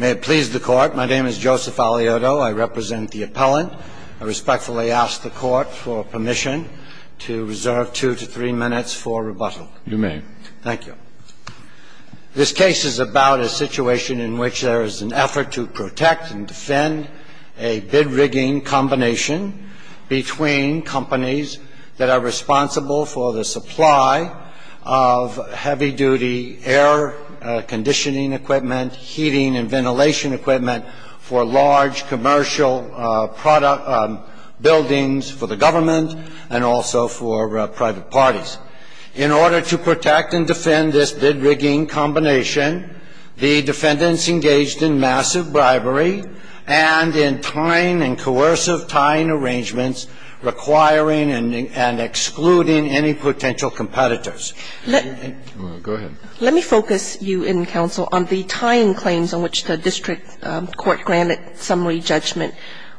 May it please the Court, my name is Joseph Alioto, I represent the appellant. I respectfully ask the Court for permission to reserve two to three minutes for rebuttal. You may. Thank you. This case is about a situation in which there is an effort to protect and defend a bid-rigging combination between companies that are responsible for the supply of heavy-duty air conditioning equipment, heating and ventilation equipment for large commercial buildings for the government and also for private parties. In order to protect and defend this bid-rigging combination, the defendants engaged in massive bribery and in tying and coercive tying arrangements requiring and excluding any potential competitors. Go ahead. Let me focus you in, counsel, on the tying claims on which the district court granted summary judgment.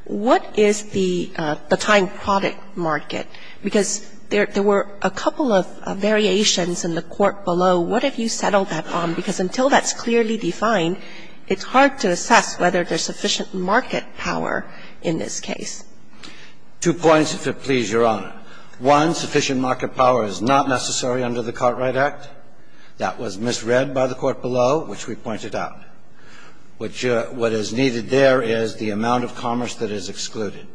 What is the tying product market? Because there were a couple of variations in the court below. What have you settled that on? Because until that's clearly defined, it's hard to assess whether there's sufficient market power in this case. Two points, if it please Your Honor. One, sufficient market power is not necessary under the Cartwright Act. That was misread by the court below, which we pointed out. What is needed there is the amount of commerce that is excluded.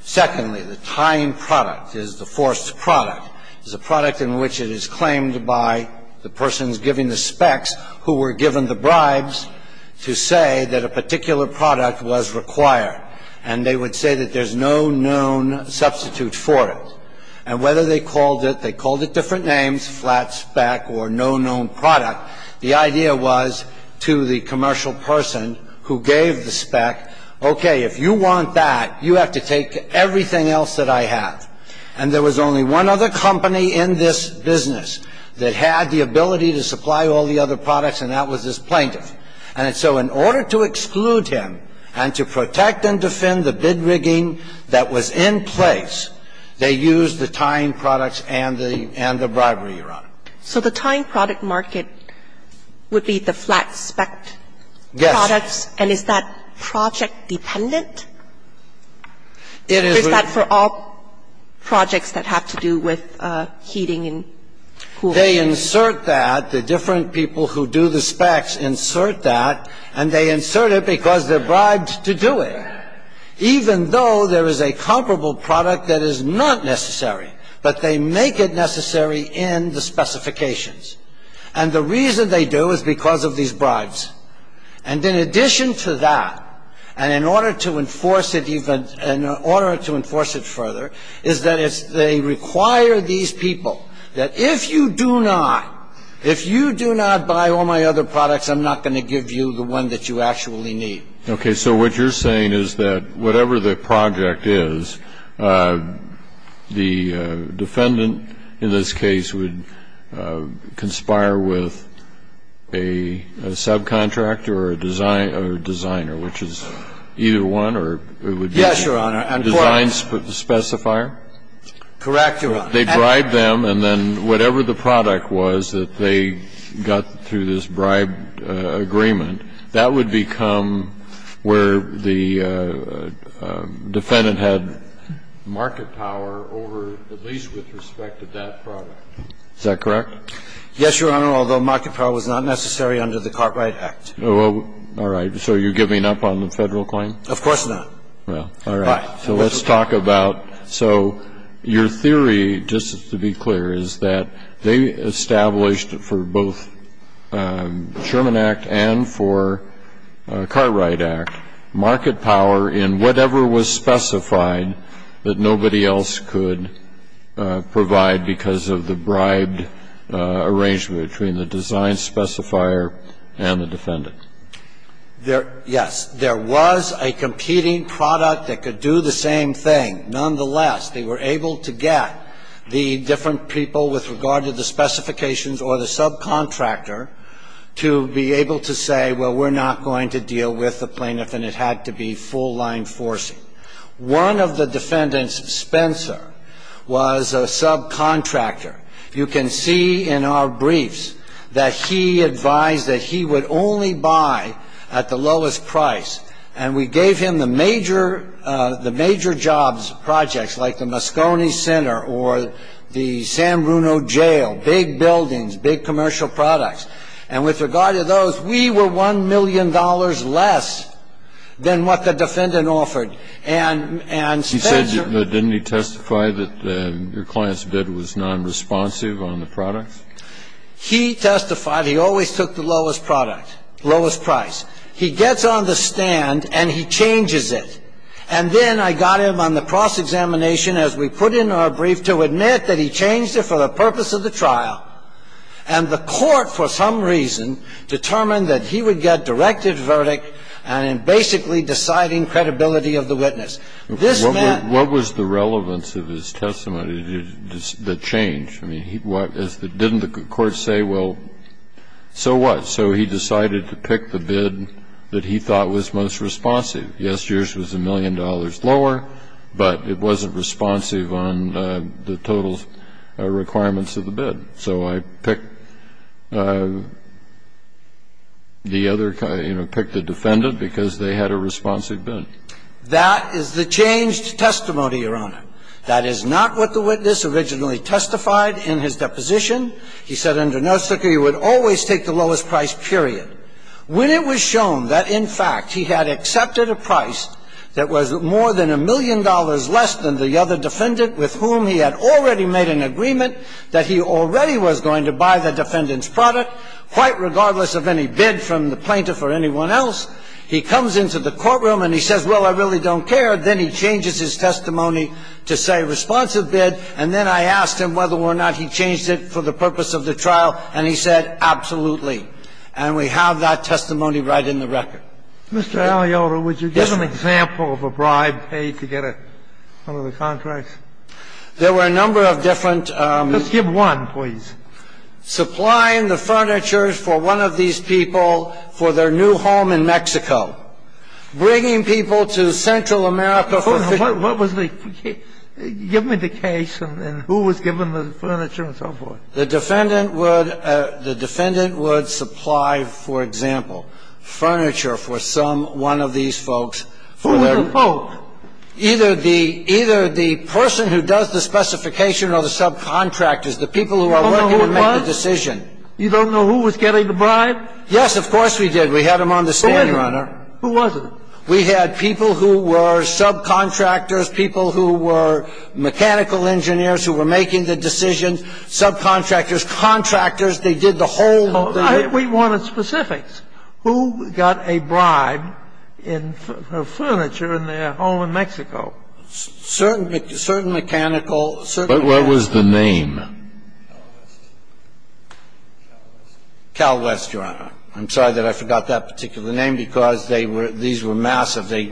Secondly, the tying product is the forced product. It's a product in which it is claimed by the persons giving the specs who were given the bribes to say that a particular product was required, and they would say that there's no known substitute for it. And whether they called it, they called it different names, flat spec or no known product. The idea was to the commercial person who gave the spec, okay, if you want that, you have to take everything else that I have. And there was only one other company in this business that had the ability to supply all the other products, and that was this plaintiff. And so in order to exclude him and to protect and defend the bid rigging that was in place, they used the tying products and the bribery, Your Honor. So the tying product market would be the flat spec products? Yes. And is that project dependent? It is. Or is that for all projects that have to do with heating and cooling? They insert that, the different people who do the specs insert that, and they insert it because they're bribed to do it. Even though there is a comparable product that is not necessary, but they make it necessary in the specifications. And the reason they do is because of these bribes. And in addition to that, and in order to enforce it further, is that they require these people that if you do not buy all my other products, I'm not going to give you the one that you actually need. Okay, so what you're saying is that whatever the project is, the defendant in this case would conspire with a subcontractor or a designer, which is either one, or it would be- Yes, Your Honor. Design specifier? Correct, Your Honor. They bribe them, and then whatever the product was that they got through this bribe agreement, that would become where the defendant had market power over, at least with respect to that product. Is that correct? Yes, Your Honor, although market power was not necessary under the Cartwright Act. All right, so you're giving up on the Federal claim? Of course not. Well, all right, so let's talk about, so your theory, just to be clear, is that they established for both Sherman Act and for Cartwright Act, market power in whatever was specified that nobody else could provide because of the bribed agreement. Yes, there was a competing product that could do the same thing. Nonetheless, they were able to get the different people with regard to the specifications or the subcontractor to be able to say, well, we're not going to deal with the plaintiff, and it had to be full-line forcing. One of the defendants, Spencer, was a subcontractor. You can see in our briefs that he advised that he would only buy at the lowest price, and we gave him the major jobs, projects like the Moscone Center or the San Bruno Jail, big buildings, big commercial products. And with regard to those, we were $1 million less than what the defendant offered. And Spencer He said, didn't he testify that your client's testimony was unresponsive on the products? He testified he always took the lowest product, lowest price. He gets on the stand, and he changes it. And then I got him on the cross-examination, as we put in our brief, to admit that he changed it for the purpose of the trial, and the court, for some reason, determined that he would get directed verdict on basically deciding credibility of the witness. This man What was the relevance of his testimony that changed? I mean, didn't the court say, well, so what? So he decided to pick the bid that he thought was most responsive. Yes, yours was $1 million lower, but it wasn't responsive on the total requirements of the bid. So I picked the defendant because they had a responsive bid. That is the changed testimony, Your Honor. That is not what the witness originally testified in his deposition. He said under no circuit, he would always take the lowest price, period. When it was shown that, in fact, he had accepted a price that was more than $1 million less than the other defendant with whom he had already made an agreement that he already was going to buy the defendant's product, quite regardless of any bid from the plaintiff or anyone else, he comes into the courtroom and he says, well, I really don't care, then he changes his testimony to say responsive bid, and then I asked him whether or not he changed it for the purpose of the trial, and he said, absolutely. And we have that testimony right in the record. Mr. Aliota, would you give an example of a bribe paid to get one of the contracts? There were a number of different Just give one, please. The defendant would supply, for example, furniture for one of these folks, and the defendant would supply the furniture for one of these folks. Supplying the furniture for one of these people for their new home in Mexico. Bringing people to Central America for What was the case? Give me the case and who was given the furniture and so forth. The defendant would supply, for example, furniture for some one of these folks. Who were the folks? Either the person who does the specification or the subcontractors, the people who are working to make the decision. You don't know who was getting the bribe? Yes, of course we did. We had them on the stand, Your Honor. Who was it? We had people who were subcontractors, people who were mechanical engineers who were making the decision, subcontractors, contractors. They did the whole We wanted specifics. Who got a bribe for furniture in their home in Mexico? Certain mechanical But what was the name? Cal West, Your Honor. I'm sorry that I forgot that particular name because they were these were massive. They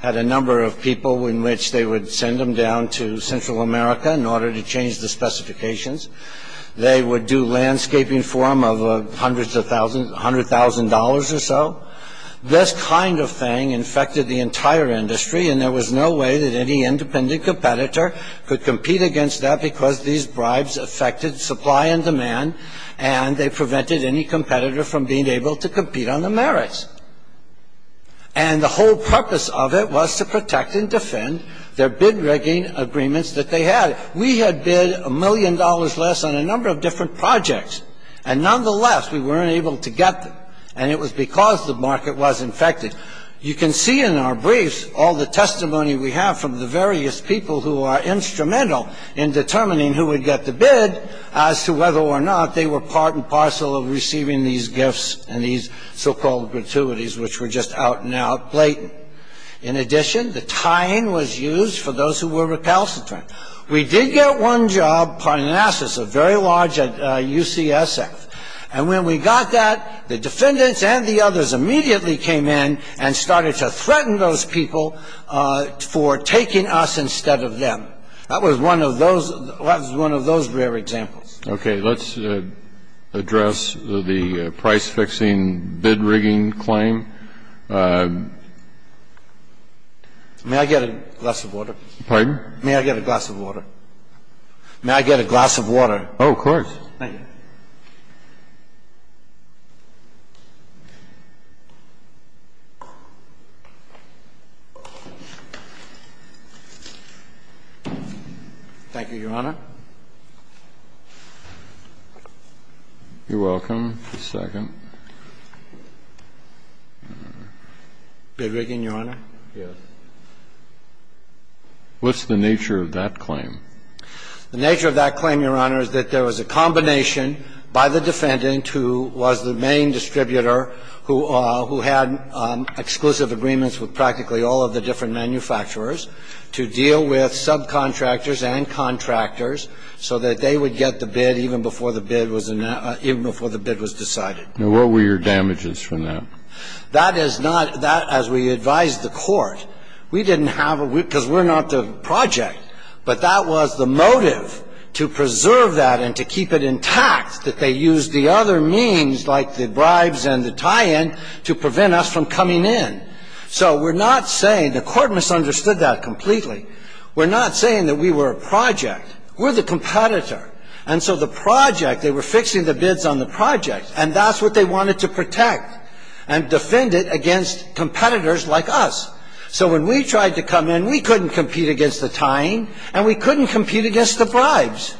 had a number of people in which they would send them down to Central America in order to change the specifications. They would do landscaping for them of hundreds of thousands, $100,000 or so. This kind of thing infected the entire industry, and there was no way that any independent competitor could compete against that because these bribes affected supply and demand, and they prevented any competitor from being able to compete on the merits. And the whole purpose of it was to protect and defend their bid rigging agreements that they had. We had bid a million dollars less on a number of different projects, and nonetheless we weren't able to get them, and it was because the market was infected. You can see in our briefs all the testimony we have from the various people who are instrumental in determining who would get the bid as to whether or not they were part and parcel of receiving these gifts and these so-called gratuities which were just out and out blatant. In addition, the tying was used for those who were recalcitrant. We did get one job, Parnassus, a very large UCSF, and when we got that, the defendants and the others immediately came in and started to threaten those people for taking us instead of them. That was one of those rare examples. Okay. Let's address the price-fixing bid rigging claim. May I get a glass of water? Pardon? May I get a glass of water? May I get a glass of water? Oh, of course. Thank you. Thank you, Your Honor. You're welcome. Just a second. Bid rigging, Your Honor? Yes. What's the nature of that claim? The nature of that claim, Your Honor, is that there was a combination by the defendant who was the main distributor, who had exclusive agreements with practically all of the different manufacturers to deal with subcontractors and contractors so that they would get the bid even before the bid was decided. Now, what were your damages from that? That is not, as we advised the court, we didn't have, because we're not the project, but that was the motive to preserve that and to keep it intact, that they used the other means, like the bribes and the tie-in, to prevent us from coming in. So we're not saying, the court misunderstood that completely, we're not saying that we were a project. We're the competitor. And so the project, they were fixing the bids on the project, and that's what they wanted to protect and defend it against competitors like us. So when we tried to come in, we couldn't compete against the tie-in, and we couldn't compete against the bribes.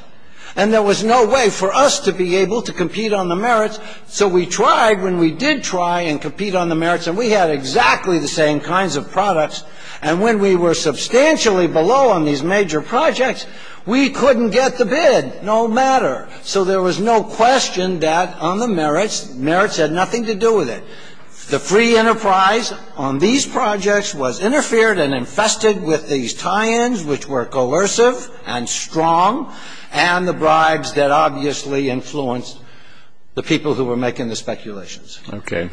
And there was no way for us to be able to compete on the merits. So we tried, when we did try and compete on the merits, and we had exactly the same kinds of products. And when we were substantially below on these major projects, we couldn't get the bid, no matter. So there was no question that on the merits, merits had nothing to do with it. The free enterprise on these projects was interfered and infested with these tie-ins, which were coercive and strong, and the bribes that obviously influenced the people who were making the speculations. Okay.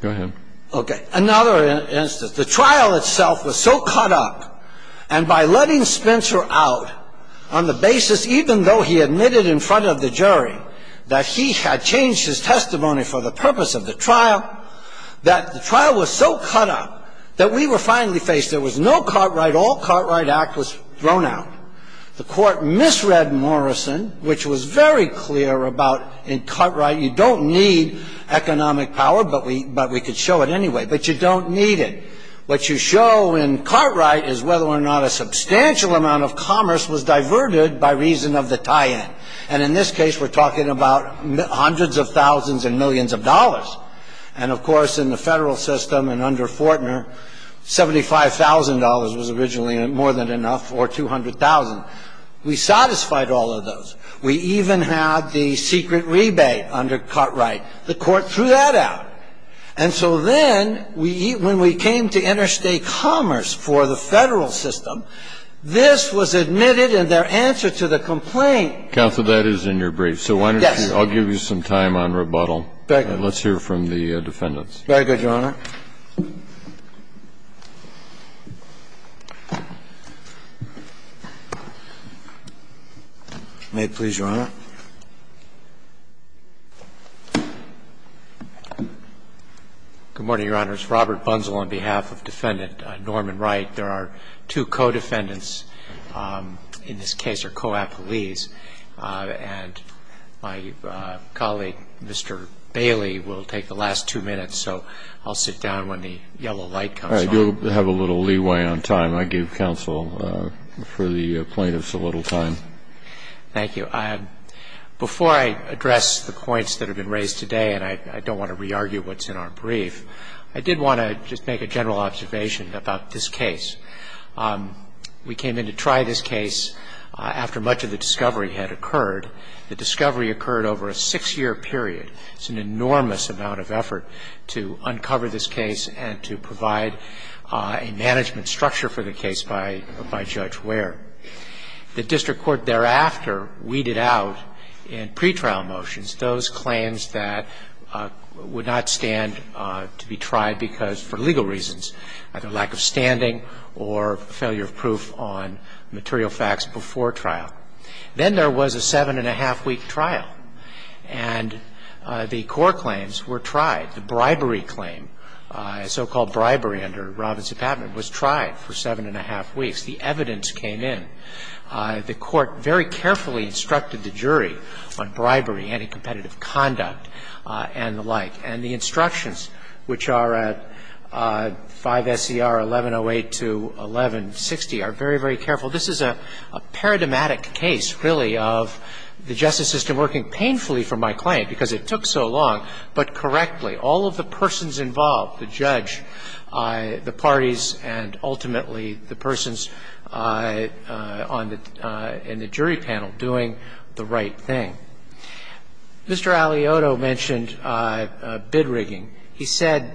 Go ahead. Okay. Another instance. The trial itself was so caught up, and by letting Spencer out on the basis, even though he admitted in front of the jury, that he had changed his testimony for the purpose of the trial, that the trial was so caught up, that we were finally faced, there was no Cartwright. All Cartwright Act was thrown out. The Court misread Morrison, which was very clear about in Cartwright, you don't need economic power, but we could show it anyway. But you don't need it. What you show in Cartwright is whether or not a substantial amount of commerce was diverted by reason of the tie-in. And in this case, we're talking about hundreds of thousands and millions of dollars. And, of course, in the Federal system and under Fortner, $75,000 was originally more than enough, or $200,000. We satisfied all of those. We even had the secret rebate under Cartwright. The Court threw that out. And so then, when we came to interstate commerce for the Federal system, this was admitted in their answer to the complaint. Counsel, that is in your brief. So why don't you, I'll give you some time on rebuttal. Let's hear from the defendants. Very good, Your Honor. May it please Your Honor. Good morning, Your Honors. Robert Bunzel on behalf of Defendant Norman Wright. There are two co-defendants in this case, or co-appellees. And my colleague, Mr. Bailey, will take the last two minutes. So I'll sit down when the yellow light comes on. All right. You'll have a little leeway on time. I gave counsel for the plaintiffs a little time. Thank you. Before I address the points that have been raised today, and I don't want to re-argue what's in our brief, I did want to just make a general observation about this case. We came in to try this case after much of the discovery had occurred. The discovery occurred over a six-year period. It's an enormous amount of effort to uncover this case and to provide a management structure for the case by Judge Ware. The district court thereafter weeded out in pretrial motions those claims that would not stand to be tried because for legal reasons, either lack of standing or failure of proof on material facts before trial. Then there was a seven-and-a-half-week trial, and the court claims were tried. The bribery claim, so-called bribery under Robinson-Patman, was tried for seven-and-a-half weeks. The evidence came in. The court very carefully instructed the jury on bribery, anti-competitive conduct, and the like. And the instructions, which are at 5 S.E.R. 1108 to 1160, are very, very careful. This is a paradigmatic case, really, of the justice system working painfully for my claim because it took so long, but correctly. All of the persons involved, the judge, the parties, and ultimately the persons in the jury panel doing the right thing. Mr. Aliotto mentioned bid rigging. He said,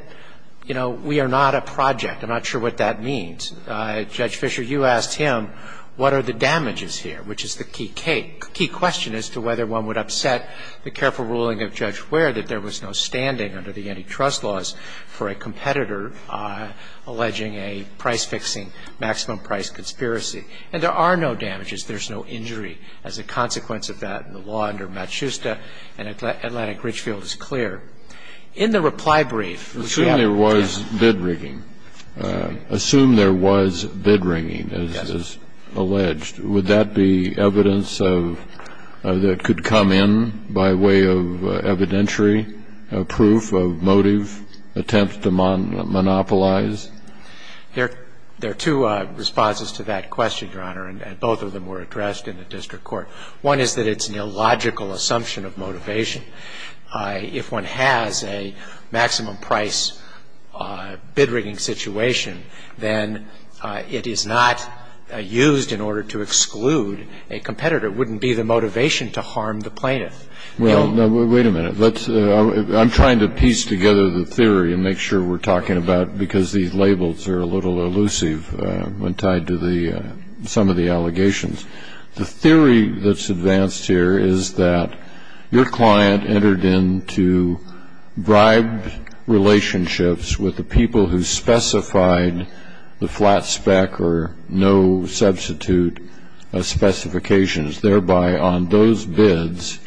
you know, we are not a project. I'm not sure what that means. Judge Fisher, you asked him, what are the damages here, which is the key question as to whether one would upset the careful ruling of Judge Ware that there was no standing under the antitrust laws for a competitor alleging a price-fixing, maximum-price conspiracy. And there are no damages. There's no injury as a consequence of that. And the law under Matshusta and Atlantic Richfield is clear. In the reply brief, which we have- Assume there was bid rigging. Assume there was bid rigging, as alleged. Would that be evidence that could come in by way of evidentiary proof of motive, attempt to monopolize? There are two responses to that question, Your Honor, and both of them were addressed in the district court. One is that it's an illogical assumption of motivation. If one has a maximum-price bid rigging situation, then it is not used in order to exclude a competitor. It wouldn't be the motivation to harm the plaintiff. Well, wait a minute. I'm trying to piece together the theory and make sure we're talking about, because these labels are a little elusive when tied to some of the allegations. The theory that's advanced here is that your client entered into bribed relationships with the people who specified the flat spec or no substitute specifications. Thereby, on those bids,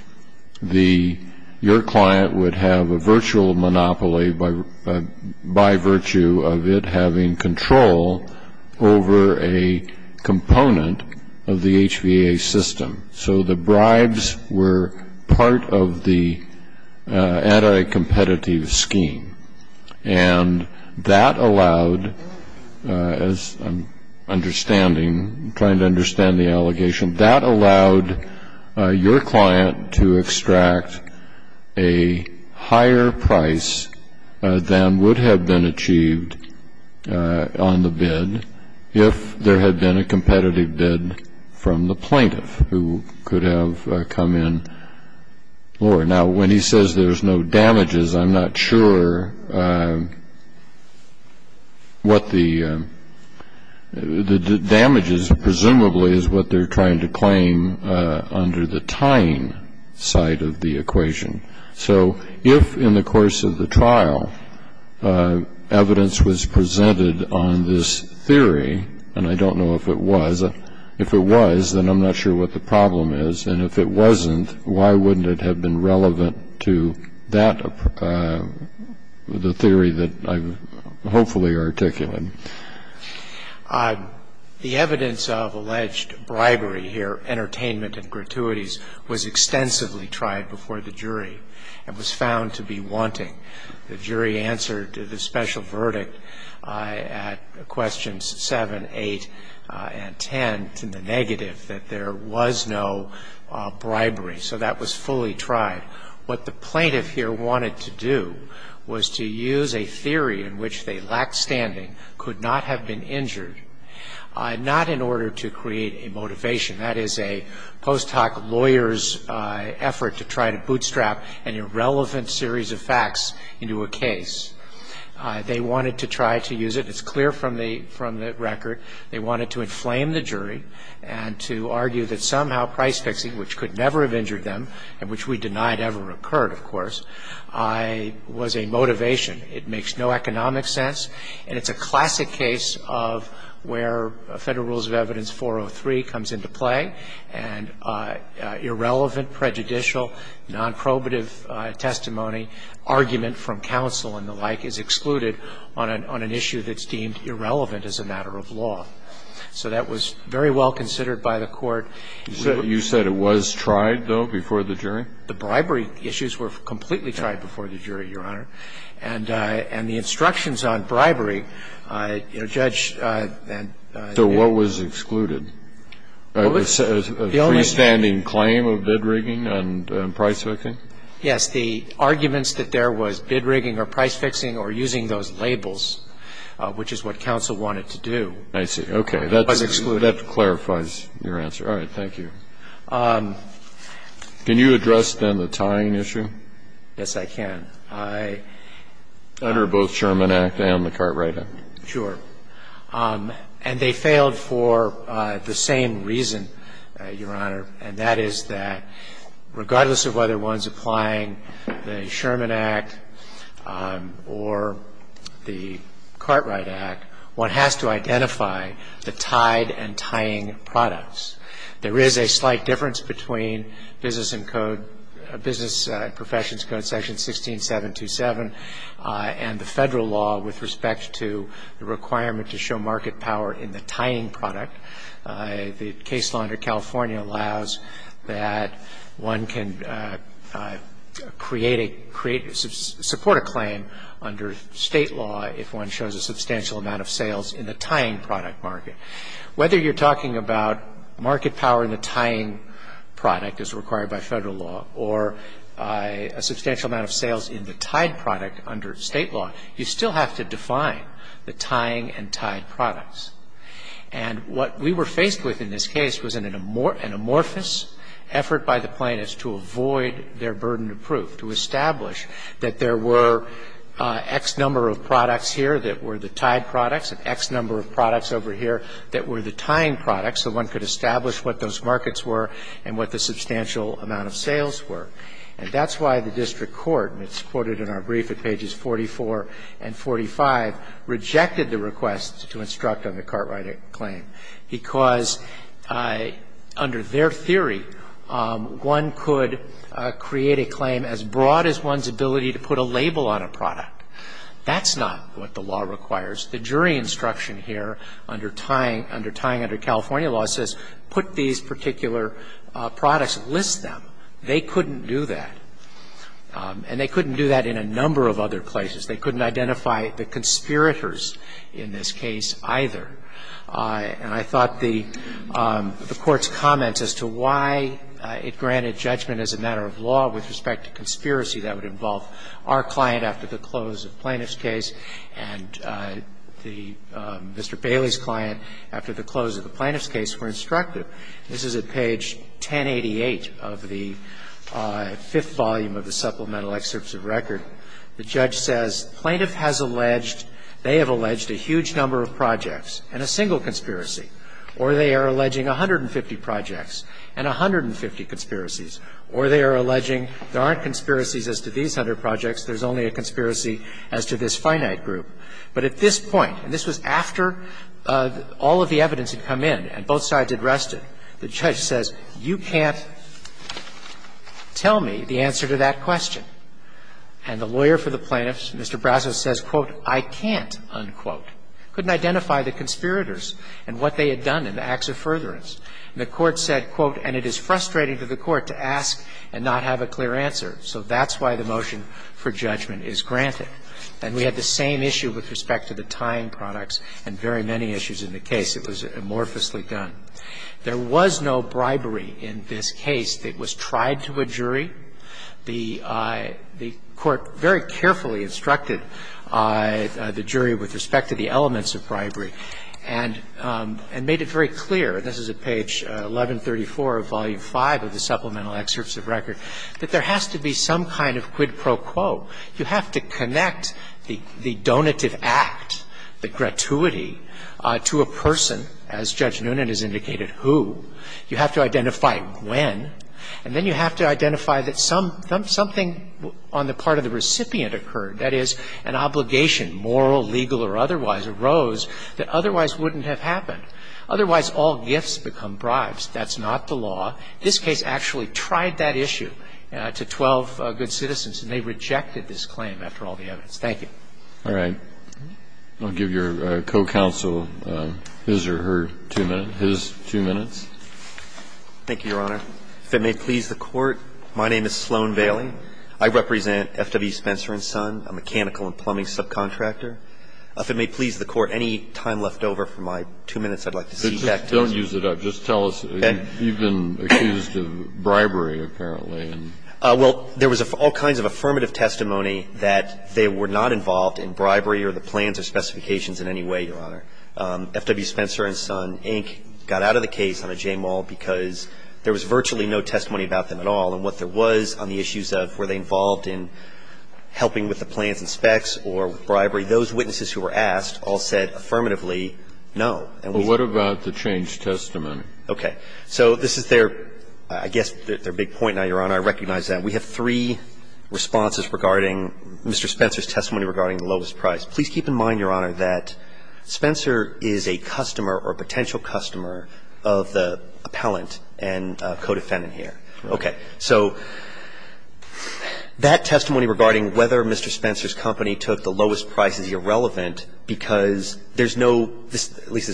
your client would have a virtual monopoly by virtue of it having control over a component of the HVA system. So the bribes were part of the anti-competitive scheme. And that allowed, as I'm understanding, trying to understand the allegation, that allowed your client to extract a higher price than would have been achieved on the bid if there had been a competitive bid from the plaintiff who could have come in lower. Now, when he says there's no damages, I'm not sure what the damages, presumably, is what they're trying to claim under the tying side of the equation. So if, in the course of the trial, evidence was presented on this theory, and I don't know if it was, if it was, then I'm not sure what the problem is. And if it wasn't, why wouldn't it have been relevant to that, the theory that I've hopefully articulated? The evidence of alleged bribery here, entertainment and gratuities, was extensively tried before the jury and was found to be wanting. The jury answered the special verdict at questions seven, eight, and ten to the negative, that there was no bribery. So that was fully tried. What the plaintiff here wanted to do was to use a theory in which they lacked standing, could not have been injured, not in order to create a motivation. That is a post hoc lawyer's effort to try to bootstrap an irrelevant series of facts into a case. They wanted to try to use it. It's clear from the record. They wanted to inflame the jury and to argue that somehow price fixing, which could never have injured them, and which we denied ever occurred, of course, was a motivation. It makes no economic sense. And it's a classic case of where Federal Rules of Evidence 403 comes into play. And irrelevant, prejudicial, non-probative testimony, argument from counsel and the like is excluded on an issue that's deemed irrelevant as a matter of law. So that was very well considered by the court. You said it was tried, though, before the jury? The bribery issues were completely tried before the jury, Your Honor. And the instructions on bribery, you know, Judge and the others. So what was excluded? The only thing. A freestanding claim of bid rigging and price fixing? Yes. The arguments that there was bid rigging or price fixing or using those labels, which is what counsel wanted to do. I see. Okay. That clarifies your answer. All right. Thank you. Can you address, then, the tying issue? Yes, I can. Under both Sherman Act and the Cartwright Act. Sure. And they failed for the same reason, Your Honor, and that is that regardless of whether one's applying the Sherman Act or the Cartwright Act, one has to identify the tied and tying products. There is a slight difference between Business and Code, Business Professions Code Section 16727 and the federal law with respect to the requirement to show market power in the tying product. The case law under California allows that one can create a, support a claim under state law if one shows a substantial amount of sales in the tying product market. Whether you're talking about market power in the tying product as required by federal law or a substantial amount of sales in the tied product under state law, you still have to define the tying and tied products. And what we were faced with in this case was an amorphous effort by the plaintiffs to avoid their burden of proof, to establish that there were X number of products here that were the tied products and X number of products over here that were the tying products so one could establish what those markets were and what the substantial amount of sales were. And that's why the district court, and it's quoted in our brief at pages 44 and 45, rejected the request to instruct on the Cartwright claim because under their theory, one could create a claim as broad as one's ability to put a label on a product. That's not what the law requires. The jury instruction here under tying, under tying under California law says put these particular products, list them. They couldn't do that. And they couldn't do that in a number of other places. They couldn't identify the conspirators in this case either. And I thought the Court's comments as to why it granted judgment as a matter of law with respect to conspiracy that would involve our client after the close of the plaintiff's case and the Mr. Bailey's client after the close of the plaintiff's case were instructive. And so this is a case where the plaintiff's attorney has a huge number of projects and a single conspiracy, and they're alleging 150 projects and 150 conspiracies. And the judge says, the plaintiff has alleged, they have alleged a huge number of projects and a single conspiracy, or they are alleging 150 projects and 150 conspiracies, or they are alleging there aren't conspiracies as to these hundred projects, there's only a conspiracy as to this finite group. But at this point, and this was after all of the evidence had come in and both sides had rested, the judge says, you can't tell me the answer to that question. And the lawyer for the plaintiffs, Mr. Brasso, says, quote, I can't, unquote. Couldn't identify the conspirators and what they had done in the acts of furtherance. And the Court said, quote, and it is frustrating to the Court to ask and not have a clear answer. So that's why the motion for judgment is granted. And we had the same issue with respect to the time products and very many issues in the case. It was amorphously done. There was no bribery in this case that was tried to a jury. The Court very carefully instructed the jury with respect to the elements of bribery and made it very clear, and this is at page 1134 of Volume V of the Supplemental Excerpts of Record, that there has to be some kind of quid pro quo. You have to connect the donative act, the gratuity, to a person, as Judge Noonan has indicated, who. You have to identify when. And then you have to identify that something on the part of the recipient occurred, that is, an obligation, moral, legal or otherwise, arose that otherwise wouldn't have happened. Otherwise, all gifts become bribes. That's not the law. This case actually tried that issue to 12 good citizens, and they rejected this claim after all the evidence. Thank you. All right. I'll give your co-counsel his or her two minutes. His two minutes. Thank you, Your Honor. If it may please the Court, my name is Sloan Bailey. I represent F.W. Spencer & Son, a mechanical and plumbing subcontractor. If it may please the Court, any time left over for my two minutes, I'd like to see back to you. Don't use it up. Just tell us, you've been accused of bribery, apparently. Well, there was all kinds of affirmative testimony that they were not involved in bribery or the plans or specifications in any way, Your Honor. F.W. Spencer & Son, Inc. got out of the case on a J-mall because there was virtually no testimony about them at all, and what there was on the issues of were they involved in helping with the plans and specs or bribery, those witnesses who were asked all said affirmatively no. But what about the changed testimony? Okay. So this is their, I guess, their big point now, Your Honor. I recognize that. We have three responses regarding Mr. Spencer's testimony regarding the lowest price. Please keep in mind, Your Honor, that Spencer is a customer or a potential customer of the appellant and codefendant here. Okay. So that testimony regarding whether Mr. Spencer's company took the lowest price is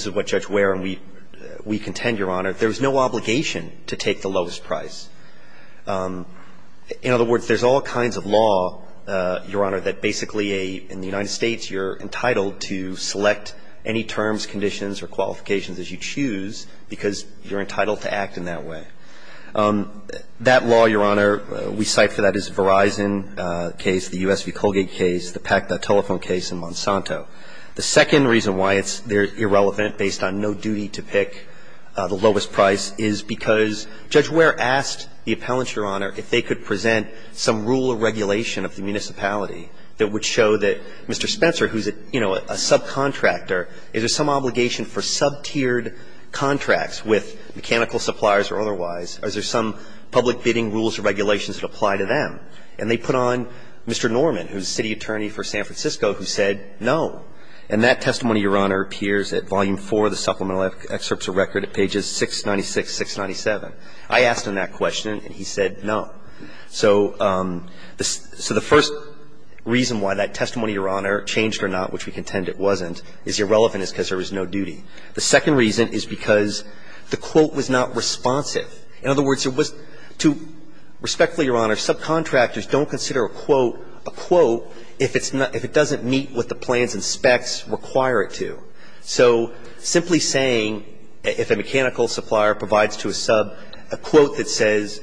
what Judge Ware and we contend, Your Honor, there's no obligation to take the lowest price. In other words, there's all kinds of law, Your Honor, that basically in the United States, you're entitled to select any terms, conditions or qualifications as you choose because you're entitled to act in that way. That law, Your Honor, we cite for that is Verizon case, the U.S. v. Colgate case, the Pacta telephone case in Monsanto. The second reason why it's irrelevant based on no duty to pick the lowest price is because Judge Ware asked the appellant, Your Honor, if they could present some rule or regulation of the municipality that would show that Mr. Spencer, who's a, you know, a subcontractor, is there some obligation for sub-tiered contracts with mechanical suppliers or otherwise, or is there some public bidding rules or regulations that apply to them? And they put on Mr. Norman, who's city attorney for San Francisco, who said no. And that testimony, Your Honor, appears at Volume 4 of the Supplemental Excerpts of Record at pages 696, 697. I asked him that question, and he said no. So the first reason why that testimony, Your Honor, changed or not, which we contend it wasn't, is irrelevant is because there was no duty. The second reason is because the quote was not responsive. In other words, it was to – respectfully, Your Honor, subcontractors don't consider a quote if it's not – if it doesn't meet what the plans and specs require it to. So simply saying, if a mechanical supplier provides to a sub a quote that says,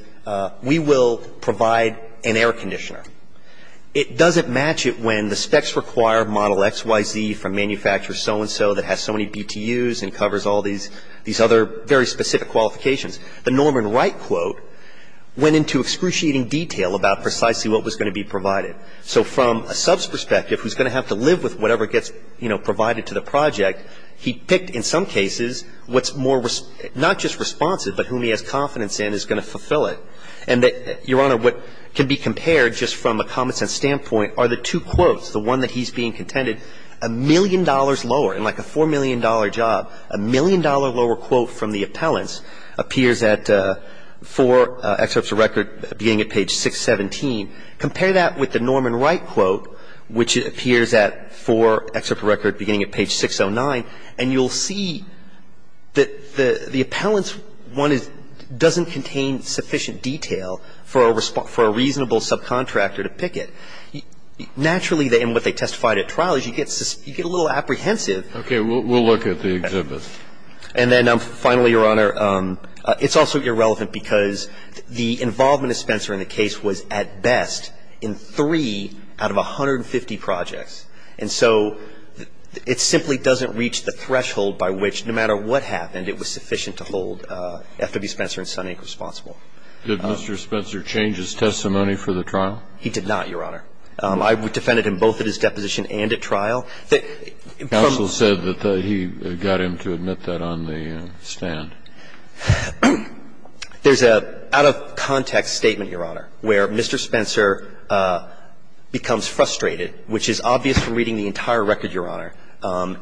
we will provide an air conditioner, it doesn't match it when the specs require Model XYZ from manufacturer so-and-so that has so many BTUs and covers all these other very specific qualifications. The Norman Wright quote went into excruciating detail about precisely what was going to be provided. So from a sub's perspective, who's going to have to live with whatever gets, you know, provided to the project, he picked in some cases what's more – not just responsive, but whom he has confidence in is going to fulfill it. And that, Your Honor, what can be compared just from a common-sense standpoint are the two quotes, the one that he's being contended, a million dollars lower, and like a $4 million job, a million dollar lower quote from the appellants appears at four excerpts of record beginning at page 617. Compare that with the Norman Wright quote, which appears at four excerpts of record beginning at page 609, and you'll see that the appellant's one doesn't contain sufficient detail for a reasonable subcontractor to pick it. Naturally, in what they testified at trial is you get a little apprehensive. Okay. We'll look at the exhibit. And then finally, Your Honor, it's also irrelevant because the involvement of Spencer in the case was at best in three out of 150 projects. And so it simply doesn't reach the threshold by which, no matter what happened, it was sufficient to hold F.W. Spencer and Sonny Inc. responsible. Did Mr. Spencer change his testimony for the trial? He did not, Your Honor. I defended him both at his deposition and at trial. Counsel said that he got him to admit that on the stand. There's an out-of-context statement, Your Honor, where Mr. Spencer becomes frustrated, which is obvious from reading the entire record, Your Honor,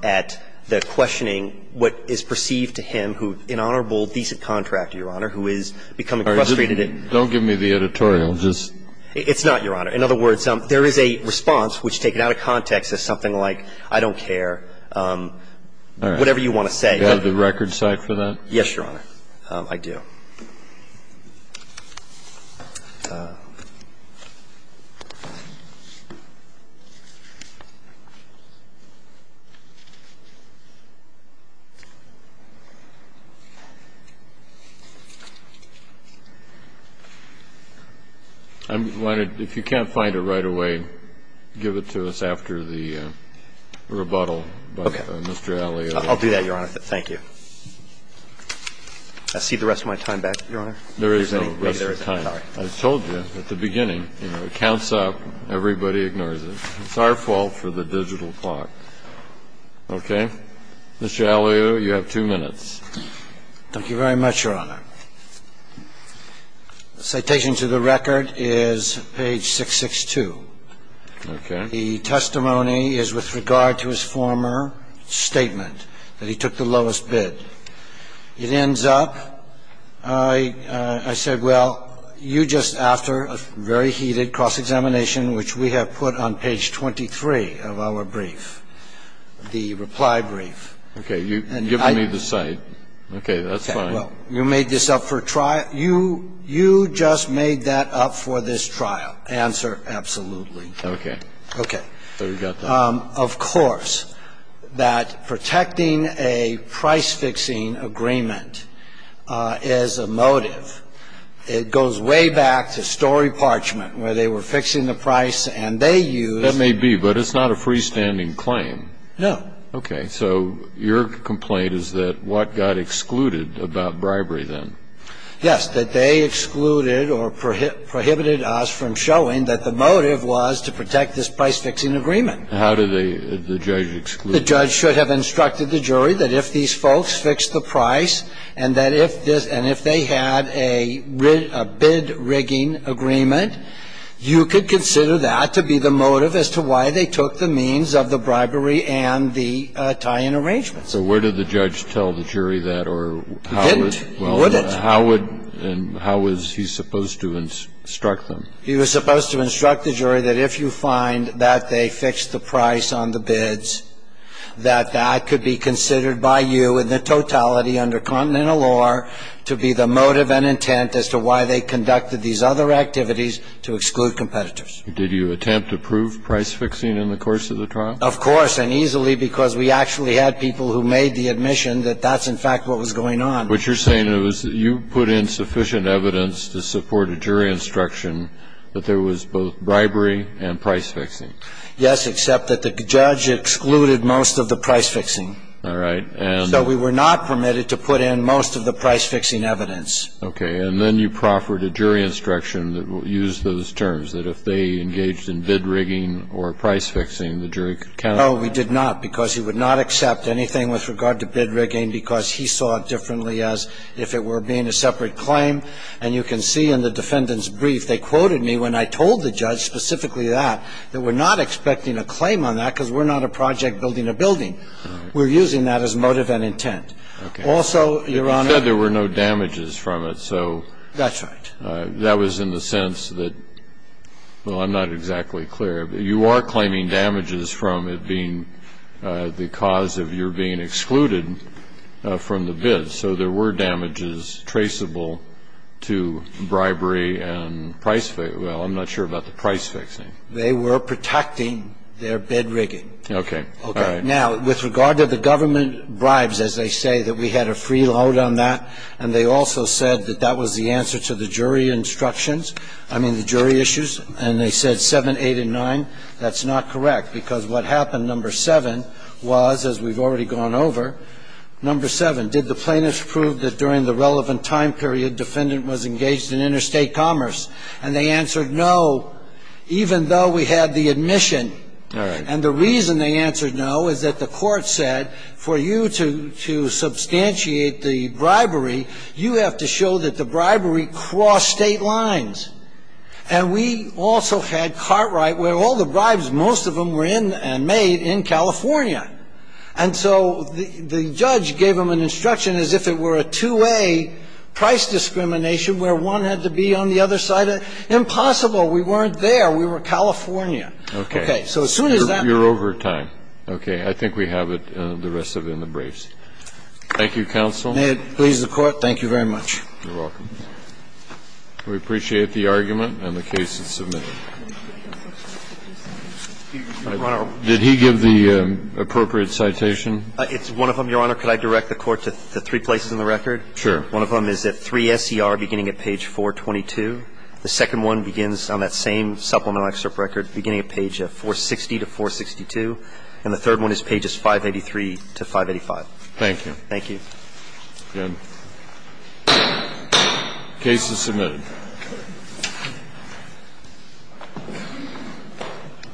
at the questioning what is perceived to him who, an honorable, decent contractor, Your Honor, who is becoming frustrated at the fact that he's not being held responsible. It's not, Your Honor. In other words, there is a response which, taken out of context, is something like, I don't care, whatever you want to say. Do you have the record cite for that? Yes, Your Honor, I do. I wanted, if you can't find it right away, give it to us after the rebuttal by Mr. Alley. Okay. I'll do that, Your Honor. Thank you. I'll cede the rest of my time back, Your Honor. There is no rest of time. I told you at the beginning, you know, it counts up, everybody ignores it. It's our fault for the digital clock. Okay. Mr. Alley, you have two minutes. Thank you very much, Your Honor. Citation to the record is page 662. Okay. The testimony is with regard to his former statement that he took the lowest bid. It ends up, I said, well, you just, after a very heated cross-examination, which we have put on page 23 of our brief, the reply brief. Okay. You've given me the cite. Okay. That's fine. You made this up for trial. You just made that up for this trial. Answer, absolutely. Okay. Okay. So we've got that. Of course, that protecting a price-fixing agreement is a motive. It goes way back to Story Parchment, where they were fixing the price and they used That may be, but it's not a freestanding claim. No. Okay. So your complaint is that what got excluded about bribery then? Yes, that they excluded or prohibited us from showing that the motive was to protect this price-fixing agreement. How did they, the judge, exclude? The judge should have instructed the jury that if these folks fixed the price and that if this, and if they had a bid-rigging agreement, you could consider that to be the motive as to why they took the means of the bribery and the tie-in arrangements. So where did the judge tell the jury that or how would? He didn't. He wouldn't. How would and how was he supposed to instruct them? He was supposed to instruct the jury that if you find that they fixed the price on the bids, that that could be considered by you in the totality under continental law to be the motive and intent as to why they conducted these other activities to exclude competitors. Did you attempt to prove price-fixing in the course of the trial? Of course, and easily, because we actually had people who made the admission that that's, in fact, what was going on. But you're saying it was that you put in sufficient evidence to support a jury instruction that there was both bribery and price-fixing? Yes, except that the judge excluded most of the price-fixing. All right. And so we were not permitted to put in most of the price-fixing evidence. Okay. And then you proffered a jury instruction that used those terms, that if they engaged in bid-rigging or price-fixing, the jury could count on that. No, we did not, because he would not accept anything with regard to bid-rigging because he saw it differently as if it were being a separate claim. And you can see in the defendant's brief, they quoted me when I told the judge specifically that, that we're not expecting a claim on that because we're not a project building a building. We're using that as motive and intent. Also, Your Honor You said there were no damages from it, so That's right. That was in the sense that, well, I'm not exactly clear, but you are claiming damages from it being the cause of your being excluded from the bid. So there were damages traceable to bribery and price-fixing. Well, I'm not sure about the price-fixing. They were protecting their bid-rigging. Okay. All right. Now, with regard to the government bribes, as they say, that we had a free load on that, and they also said that that was the answer to the jury instructions – I mean, the jury issues – and they said 7, 8, and 9, that's not correct, because what happened, number 7, was, as we've already gone over, number 7, did the plaintiffs prove that, during the relevant time period, the defendant was engaged in interstate commerce? And they answered no, even though we had the admission. All right. And the reason they answered no is that the court said, for you to substantiate the bribery, you have to show that the bribery crossed state lines. And we also had Cartwright, where all the bribes, most of them, were in and made in California. And so the judge gave them an instruction as if it were a two-way price discrimination where one had to be on the other side of the – impossible, we weren't there, we were in California. Okay. So as soon as that – You're over time. Okay. I think we have it, the rest of it, in the briefs. Thank you, counsel. May it please the Court. Thank you very much. You're welcome. We appreciate the argument and the case that's submitted. Did he give the appropriate citation? It's one of them, Your Honor. Could I direct the Court to the three places in the record? Sure. One of them is at 3 S.E.R. beginning at page 422. The second one begins on that same supplemental excerpt record beginning at page 460 to 462. And the third one is pages 583 to 585. Thank you. Thank you. Good. The case is submitted.